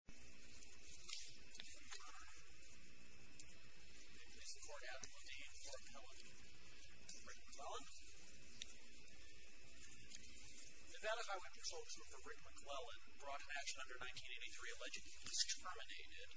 The event of Highway Patrol Trooper Rick McLellan brought to action under 1983 alleged he was terminated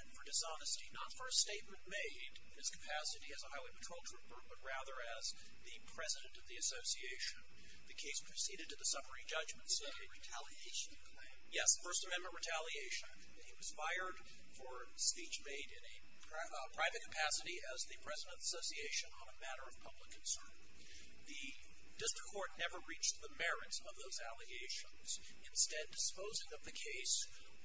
and for dishonesty, not for a statement made in his capacity as a Highway Patrol Trooper, but rather as the president of the association. The case proceeded to the summary judgment. Yes, First Amendment retaliation. He was fired for speech made in a private capacity as the president of the association on a matter of public concern. The district court never reached the merits of those allegations. Instead, disposing of the case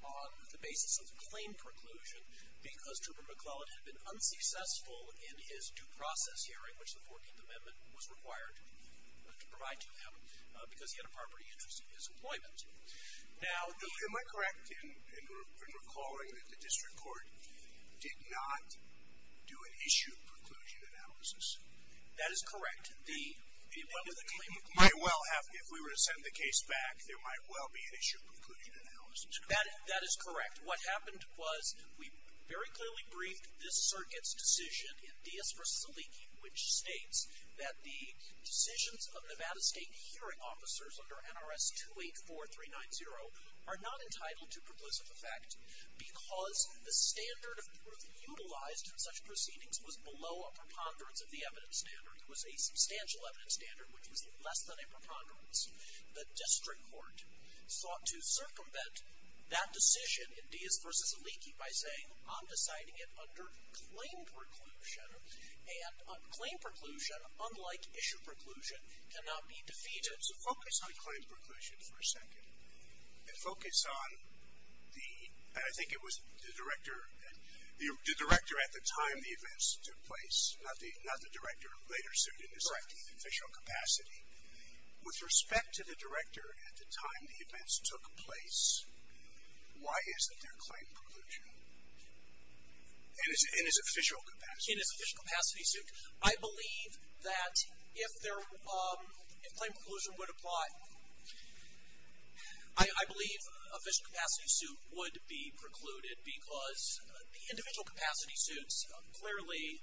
on the basis of the claim preclusion because Trooper McLellan had been unsuccessful in his due process hearing, which the 14th Amendment was required to provide to him because he had a property interest in his employment. Am I correct in recalling that the district court did not do an issue preclusion analysis? That is correct. If we were to send the case back, there might well be an issue preclusion analysis. That is correct. What happened was we very clearly briefed this circuit's decision in Diaz v. Aliki, which states that the decisions of Nevada State Hearing Officers under NRS 284390 are not entitled to proclusive effect because the standard of proof utilized in such proceedings was below a preponderance of the evidence standard. It was a substantial evidence standard, which was less than a preponderance. The district court sought to circumvent that decision in Diaz v. Aliki by saying, I'm deciding it under claim preclusion, and claim preclusion, unlike issue preclusion, cannot be defeated. So focus on claim preclusion for a second, and focus on the, and I think it was the director, the director at the time the events took place, not the director who later sued in this official capacity. With respect to the director at the time the events took place, why isn't there claim preclusion in his official capacity? In his official capacity suit, I believe that if there, if claim preclusion would apply, I believe official capacity suit would be precluded because the individual capacity suits, clearly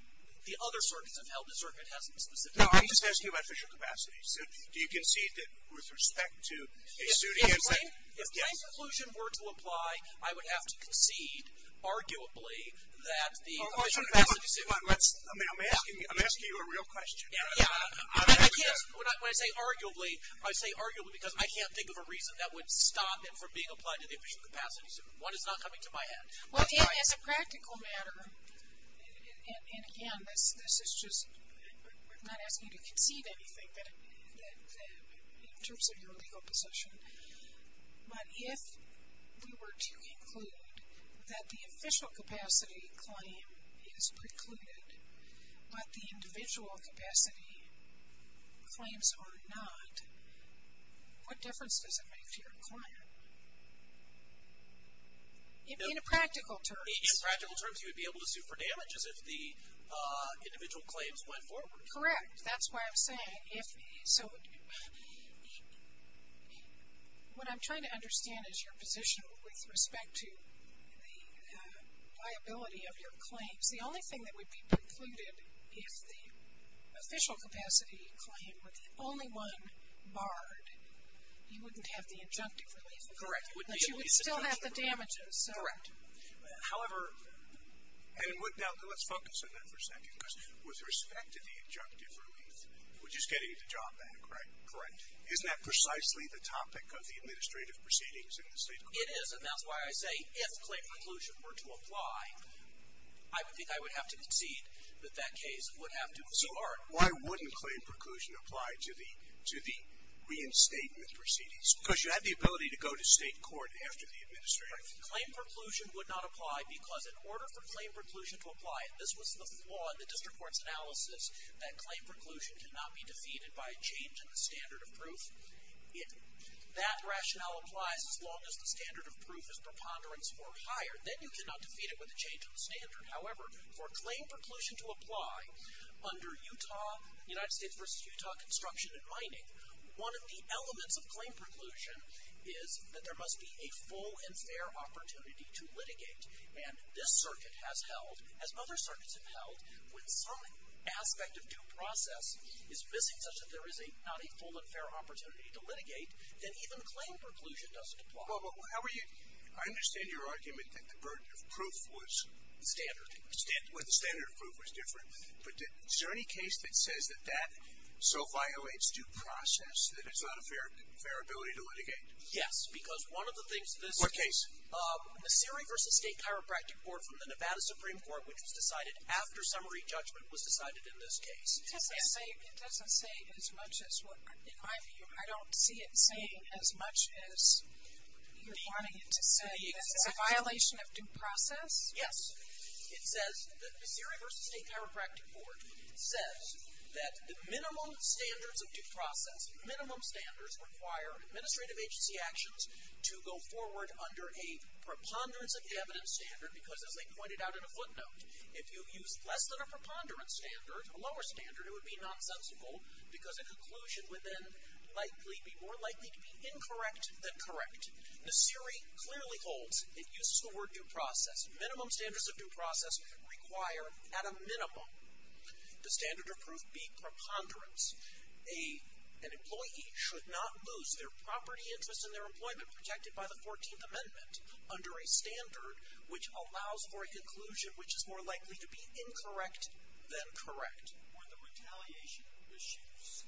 the other circuits have held the circuit hasn't been specific. No, I'm just asking about official capacity suit. Do you concede that with respect to a suit against that? If claim preclusion were to apply, I would have to concede, arguably, that the official capacity suit. I'm asking you a real question. Yeah. When I say arguably, I say arguably because I can't think of a reason that would stop it from being applied to the official capacity suit. One is not coming to my head. Well, as a practical matter, and again, this is just, we're not asking you to concede anything in terms of your legal possession, but if we were to include that the official capacity claim is precluded, but the individual capacity claims are not, what difference does it make to your client? In practical terms. In practical terms, you would be able to sue for damages if the individual claims went forward. Correct. That's why I'm saying if, so what I'm trying to understand is your position with respect to the liability of your claims. The only thing that would be precluded if the official capacity claim, with only one barred, you wouldn't have the injunctive relief. Correct. But you would still have the damages. Correct. However, and now let's focus on that for a second because with respect to the injunctive relief, which is getting the job done, correct? Correct. Isn't that precisely the topic of the administrative proceedings in the state court? It is, and that's why I say if claim preclusion were to apply, I would think I would have to concede that that case would have to be barred. Why wouldn't claim preclusion apply to the reinstatement proceedings? Because you have the ability to go to state court after the administrative proceedings. Claim preclusion would not apply because in order for claim preclusion to apply, and this was the flaw in the district court's analysis, that claim preclusion cannot be defeated by a change in the standard of proof. If that rationale applies as long as the standard of proof is preponderance or higher, then you cannot defeat it with a change in the standard. However, for claim preclusion to apply under Utah, United States versus Utah construction and mining, one of the elements of claim preclusion is that there must be a full and fair opportunity to litigate, and this circuit has held, as other circuits have held, when some aspect of due process is missing such that there is not a full and fair opportunity to litigate, then even claim preclusion doesn't apply. Well, I understand your argument that the burden of proof was standard, where the standard of proof was different, but is there any case that says that that so violates due process that it's not a fair ability to litigate? Yes, because one of the things this- What case? The Surrey versus State Chiropractic Court from the Nevada Supreme Court, which was decided after summary judgment was decided in this case. It doesn't say as much as what- In my view, I don't see it saying as much as you're wanting it to say that it's a violation of due process. Yes, it says- The Surrey versus State Chiropractic Court says that the minimum standards of due process, minimum standards require administrative agency actions to go forward under a preponderance of evidence standard, because as they pointed out in a footnote, if you use less than a preponderance standard, a lower standard, it would be nonsensical because a conclusion would then likely- be more likely to be incorrect than correct. The Surrey clearly holds. It uses the word due process. Minimum standards of due process require, at a minimum, the standard of proof be preponderance. An employee should not lose their property interest and their employment protected by the 14th Amendment under a standard which allows for a conclusion which is more likely to be incorrect than correct. Were the retaliation issues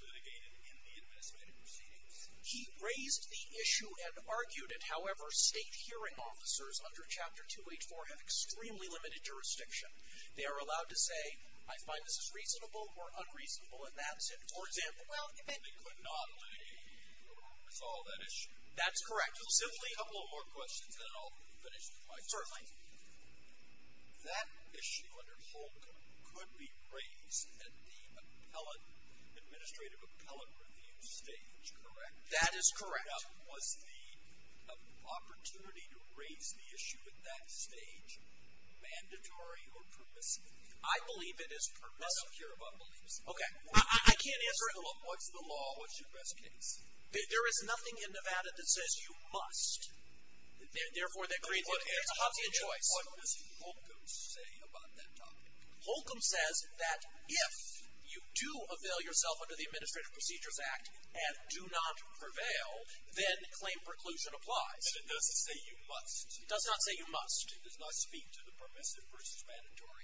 litigated in the administrative proceedings? He raised the issue and argued it. However, state hearing officers under Chapter 284 have extremely limited jurisdiction. They are allowed to say, I find this is reasonable or unreasonable, and that's it. For example- Well, if it- They could not litigate with all that issue. That's correct. We'll simply- A couple more questions, then I'll finish the question. Certainly. That issue under Holcomb could be raised at the appellate- administrative appellate review stage, correct? That is correct. Now, was the opportunity to raise the issue at that stage mandatory or permissive? I believe it is permissive. Well, I don't care about permissiveness. Okay. I can't answer- What's the law? What's your best case? There is nothing in Nevada that says you must. Therefore, it's a Hobbesian choice. What does Holcomb say about that topic? Holcomb says that if you do avail yourself under the Administrative Procedures Act and do not prevail, then claim preclusion applies. But it doesn't say you must. It does not say you must. It does not speak to the permissive versus mandatory-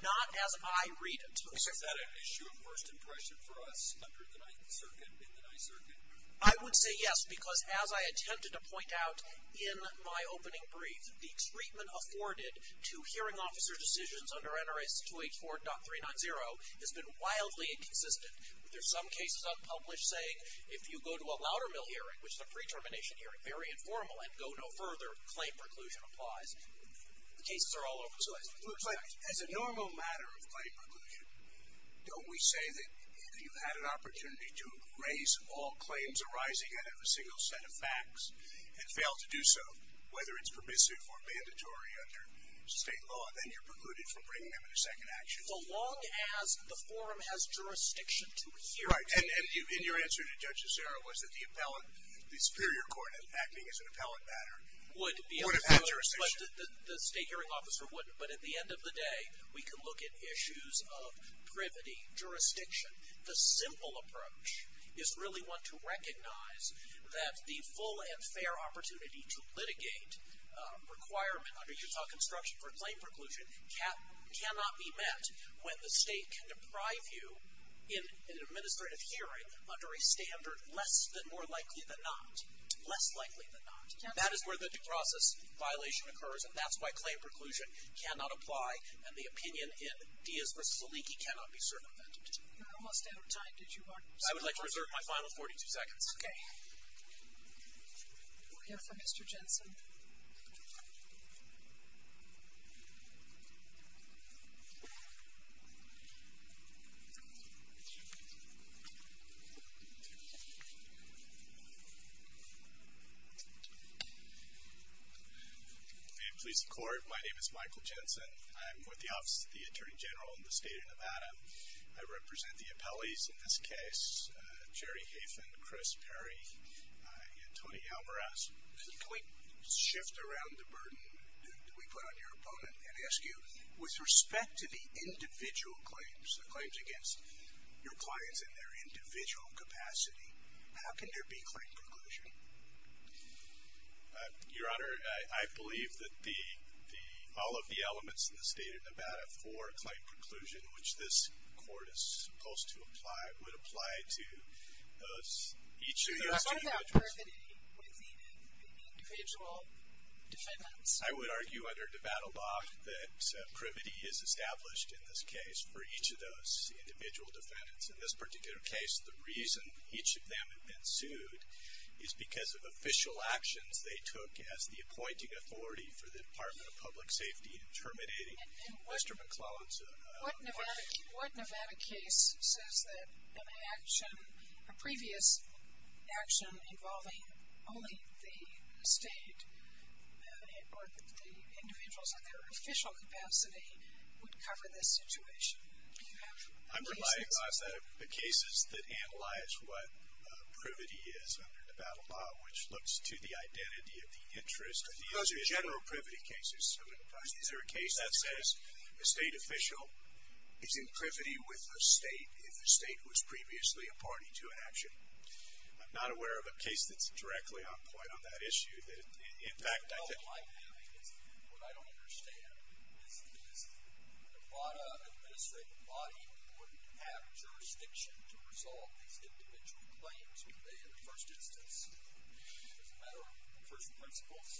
Not as I read it. Is that an issue of first impression for us? I would say yes because, as I attempted to point out in my opening brief, the treatment afforded to hearing officer decisions under NRS 284.390 has been wildly inconsistent. There are some cases out in the public saying, if you go to a louder mill hearing, which is a pre-termination hearing, very informal, and go no further, claim preclusion applies. The cases are all over the place. It looks like, as a normal matter of claim preclusion, don't we say that you've had an opportunity to erase all claims arising out of a single set of facts and fail to do so, whether it's permissive or mandatory under state law? Then you're precluded from bringing them into second action. So long as the forum has jurisdiction to hear- Right. And your answer to Judge Azera was that the appellant, would have had jurisdiction. But the state hearing officer wouldn't. But at the end of the day, we can look at issues of privity, jurisdiction. The simple approach is really one to recognize that the full and fair opportunity to litigate a requirement under Utah Construction for claim preclusion cannot be met when the state can deprive you in an administrative hearing under a standard less than more likely than not. Less likely than not. That is where the process violation occurs, and that's why claim preclusion cannot apply, and the opinion in Diaz v. Aliki cannot be circumvented. You're almost out of time. I would like to reserve my final 42 seconds. Okay. We'll hear from Mr. Jensen. May it please the Court, my name is Michael Jensen. I'm with the Office of the Attorney General in the state of Nevada. I represent the appellees in this case, Jerry Hafen, Chris Perry, and Tony Alvarez. Could we shift around the burden that we put on your opponent and ask you, with respect to the individual claims, the claims against your clients in their individual capacity, how can there be claim preclusion? Your Honor, I believe that all of the elements in the state of Nevada for claim preclusion, which this Court is supposed to apply, would apply to each of those individuals. So what about privity within the individual defendants? I would argue under Nevada law that privity is established in this case for each of those individual defendants. What Nevada case says that an action, a previous action involving only the state or the individuals in their official capacity would cover this situation? Do you have any sense of that? I'm relying on the cases that analyze what privity is. Which looks to the identity of the interest. Those are general privity cases. Is there a case that says a state official is in privity with a state if the state was previously a party to an action? I'm not aware of a case that's directly on point on that issue. What I don't understand is Nevada administrative body would have jurisdiction to resolve these individual claims. Would they in the first instance? As a matter of first principles?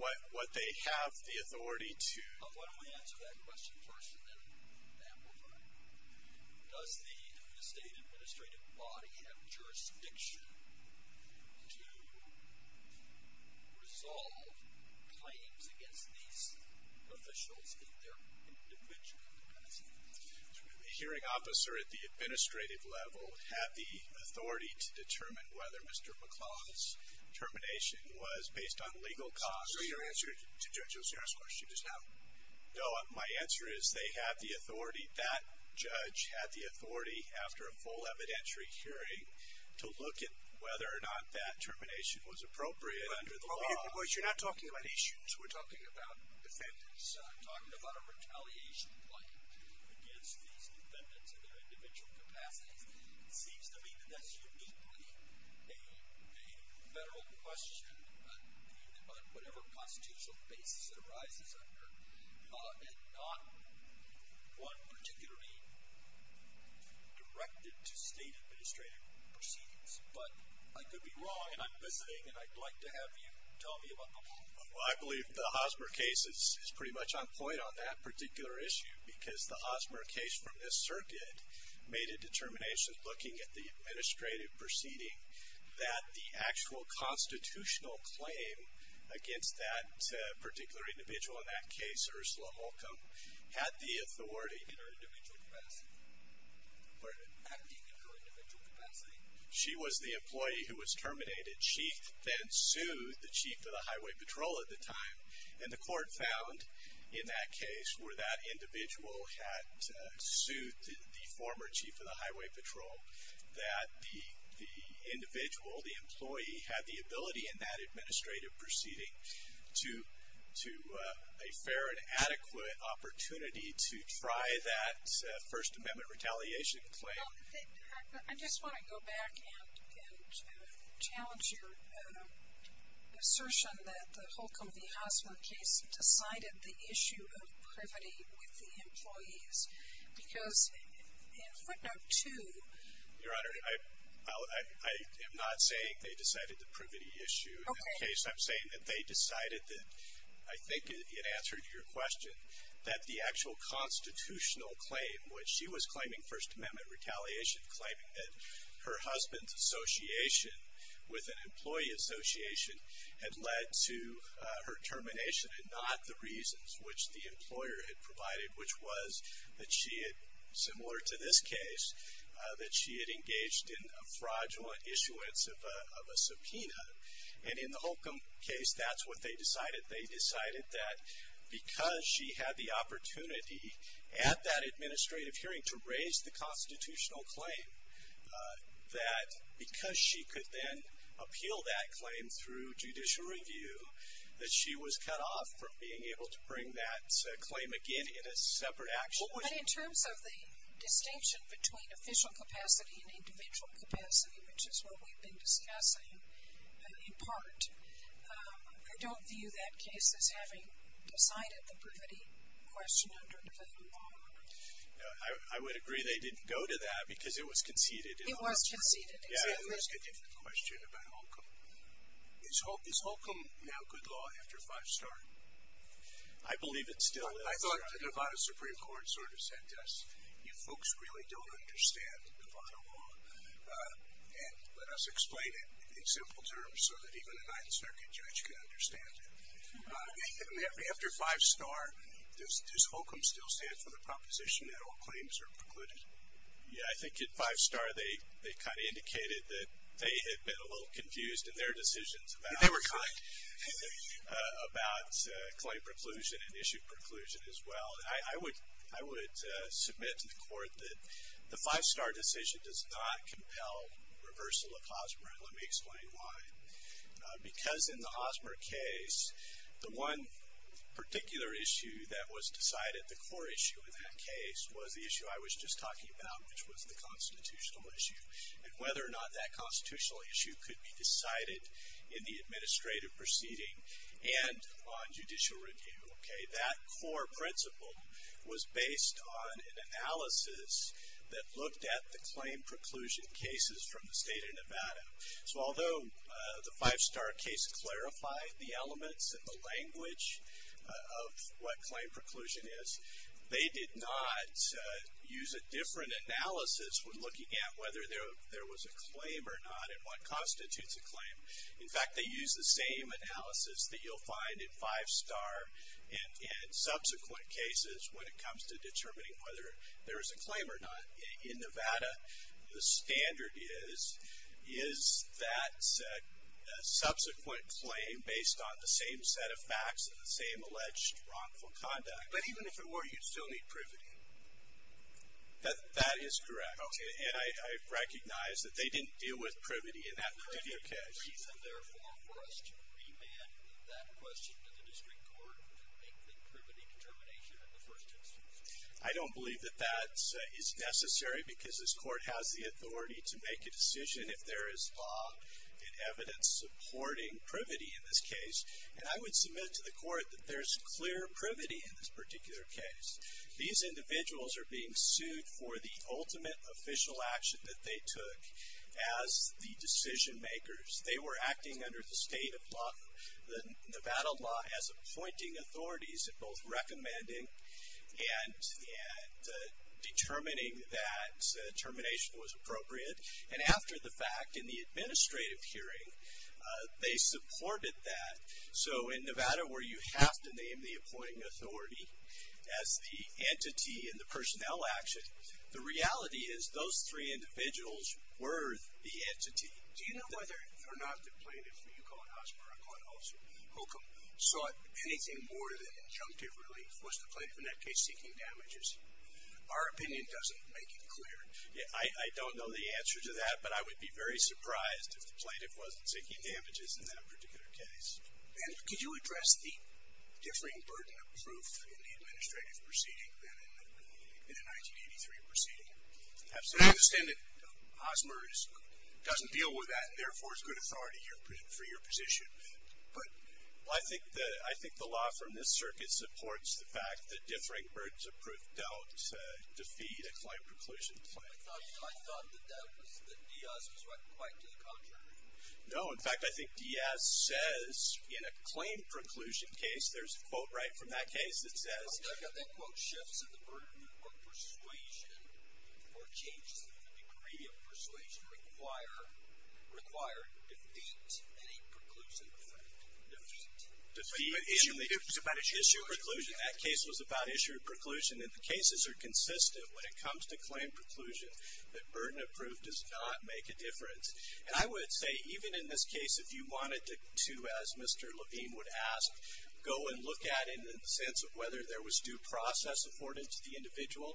What they have the authority to. Why don't we answer that question first and then amplify it. Does the state administrative body have jurisdiction to resolve claims against these officials in their individual capacity? Would the hearing officer at the administrative level have the authority to determine whether Mr. McClaw's termination was based on legal cause? So your answer to Judge Osiris' question is no. No, my answer is they have the authority, that judge had the authority after a full evidentiary hearing to look at whether or not that termination was appropriate under the law. But you're not talking about issues. We're talking about defendants. I'm talking about a retaliation point against these defendants in their individual capacities. It seems to me that that's uniquely a federal question on whatever constitutional basis it arises under and not one particularly directed to state administrative proceedings. But I could be wrong, and I'm listening, and I'd like to have you tell me about the law. Well, I believe the Hosmer case is pretty much on point on that particular issue because the Hosmer case from this circuit made a determination looking at the administrative proceeding that the actual constitutional claim against that particular individual, in that case, Ursula Holcomb, had the authority in her individual capacity. Pardon? Acting in her individual capacity. She was the employee who was terminated. She then sued the chief of the highway patrol at the time, and the court found, in that case, where that individual had sued the former chief of the highway patrol, that the individual, the employee, had the ability in that administrative proceeding to a fair and adequate opportunity to try that First Amendment retaliation claim. I just want to go back and challenge your assertion that the Holcomb v. Hosmer case decided the issue of privity with the employees because in footnote 2... Your Honor, I am not saying they decided the privity issue. Okay. In this case, I'm saying that they decided that, I think in answer to your question, that the actual constitutional claim, which she was claiming First Amendment retaliation, claiming that her husband's association with an employee association had led to her termination and not the reasons which the employer had provided, which was that she had, similar to this case, that she had engaged in a fraudulent issuance of a subpoena. And in the Holcomb case, that's what they decided. They decided that because she had the opportunity at that administrative hearing to raise the constitutional claim, that because she could then appeal that claim through judicial review, that she was cut off from being able to bring that claim again in a separate action. But in terms of the distinction between official capacity and individual capacity, which is what we've been discussing in part, I don't view that case as having decided the privity question under the federal law. I would agree they didn't go to that because it was conceded. It was conceded, exactly. Yeah, and there's a different question about Holcomb. Is Holcomb now good law after five star? I believe it still is. I thought the Nevada Supreme Court sort of said to us, you folks really don't understand Nevada law. And let us explain it in simple terms so that even a Ninth Circuit judge can understand it. After five star, does Holcomb still stand for the proposition that all claims are precluded? Yeah, I think at five star they kind of indicated that they had been a little confused in their decisions about claim preclusion and issue preclusion as well. I would submit to the court that the five star decision does not compel reversal of Hosmer. Let me explain why. Because in the Hosmer case, the one particular issue that was decided, the core issue in that case, was the issue I was just talking about, which was the constitutional issue, and whether or not that constitutional issue could be decided in the administrative proceeding and on judicial review. That core principle was based on an analysis that looked at the claim preclusion cases from the state of Nevada. So although the five star case clarified the elements and the language of what claim preclusion is, they did not use a different analysis when looking at whether there was a claim or not and what constitutes a claim. In fact, they used the same analysis that you'll find in five star and subsequent cases when it comes to determining whether there is a claim or not. In Nevada, the standard is, is that subsequent claim based on the same set of facts and the same alleged wrongful conduct. But even if it were, you'd still need privity. That is correct. And I recognize that they didn't deal with privity in that particular case. Is there any reason, therefore, for us to remand that question to the district court to make the privity determination in the first instance? I don't believe that that is necessary because this court has the authority to make a decision if there is law and evidence supporting privity in this case. And I would submit to the court that there's clear privity in this particular case. These individuals are being sued for the ultimate official action that they took as the decision makers. They were acting under the state of Nevada law as appointing authorities and both recommending and determining that termination was appropriate. And after the fact, in the administrative hearing, they supported that. So in Nevada, where you have to name the appointing authority as the entity in the personnel action, the reality is those three individuals were the entity. Do you know whether or not the plaintiff, who you call an officer or I call an officer, who sought anything more than injunctive relief, was the plaintiff in that case seeking damages? Our opinion doesn't make it clear. I don't know the answer to that, but I would be very surprised if the plaintiff wasn't seeking damages in that particular case. And could you address the differing burden of proof in the administrative proceeding than in the 1983 proceeding? Absolutely. I understand that Hosmer doesn't deal with that and therefore is good authority for your position. I think the law from this circuit supports the fact that differing burdens of proof don't defeat a claim preclusion claim. I thought that Diaz was right quite to the contrary. No, in fact, I think Diaz says in a claim preclusion case, there's a quote right from that case that says that shifts in the burden or persuasion or changes in the degree of persuasion require defeat in a preclusion claim. Defeat in the issue of preclusion. That case was about issue of preclusion. And the cases are consistent when it comes to claim preclusion that burden of proof does not make a difference. And I would say even in this case, if you wanted to, as Mr. Levine would ask, go and look at it in the sense of whether there was due process afforded to the individual,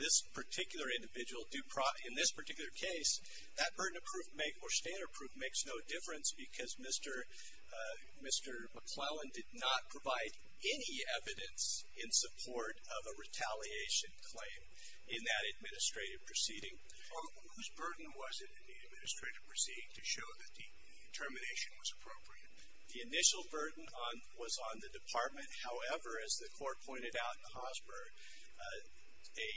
this particular individual, in this particular case, that burden of proof or standard of proof makes no difference because Mr. McClellan did not provide any evidence in support of a retaliation claim in that administrative proceeding. Whose burden was it in the administrative proceeding to show that the determination was appropriate? The initial burden was on the department. However, as the court pointed out in Hosmer, a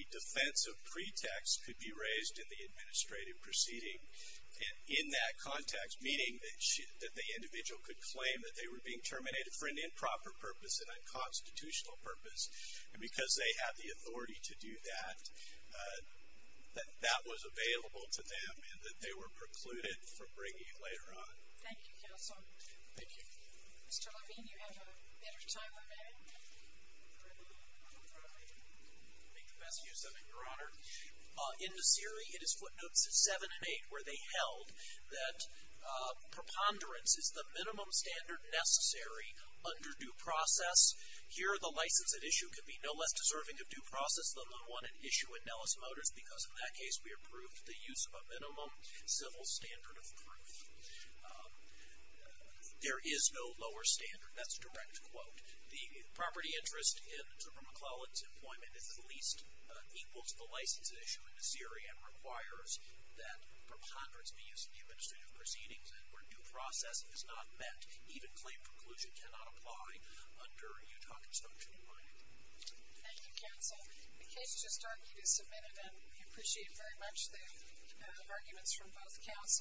defense of pretext could be raised in the administrative proceeding. And in that context, meaning that the individual could claim that they were being terminated for an improper purpose, an unconstitutional purpose, and because they had the authority to do that, that was available to them and that they were precluded from bringing it later on. Thank you, counsel. Thank you. Mr. Levine, you have a better time than I do. I'll make the best use of it, Your Honor. In the series, it is footnotes 7 and 8 where they held that preponderance is the minimum standard necessary under due process. Here, the license at issue could be no less deserving of due process than the one at issue in Nellis Motors because in that case, we approved the use of a minimum civil standard of proof. There is no lower standard. That's a direct quote. The property interest in Zimmer McClelland's employment is at least equal to the license at issue in the series and requires that preponderance be used in the administrative proceedings where due process is not met, even claim preclusion cannot apply, under Utah Construction and Mining. Thank you, counsel. The case has just started. It is submitted, and we appreciate very much the arguments from both counsels.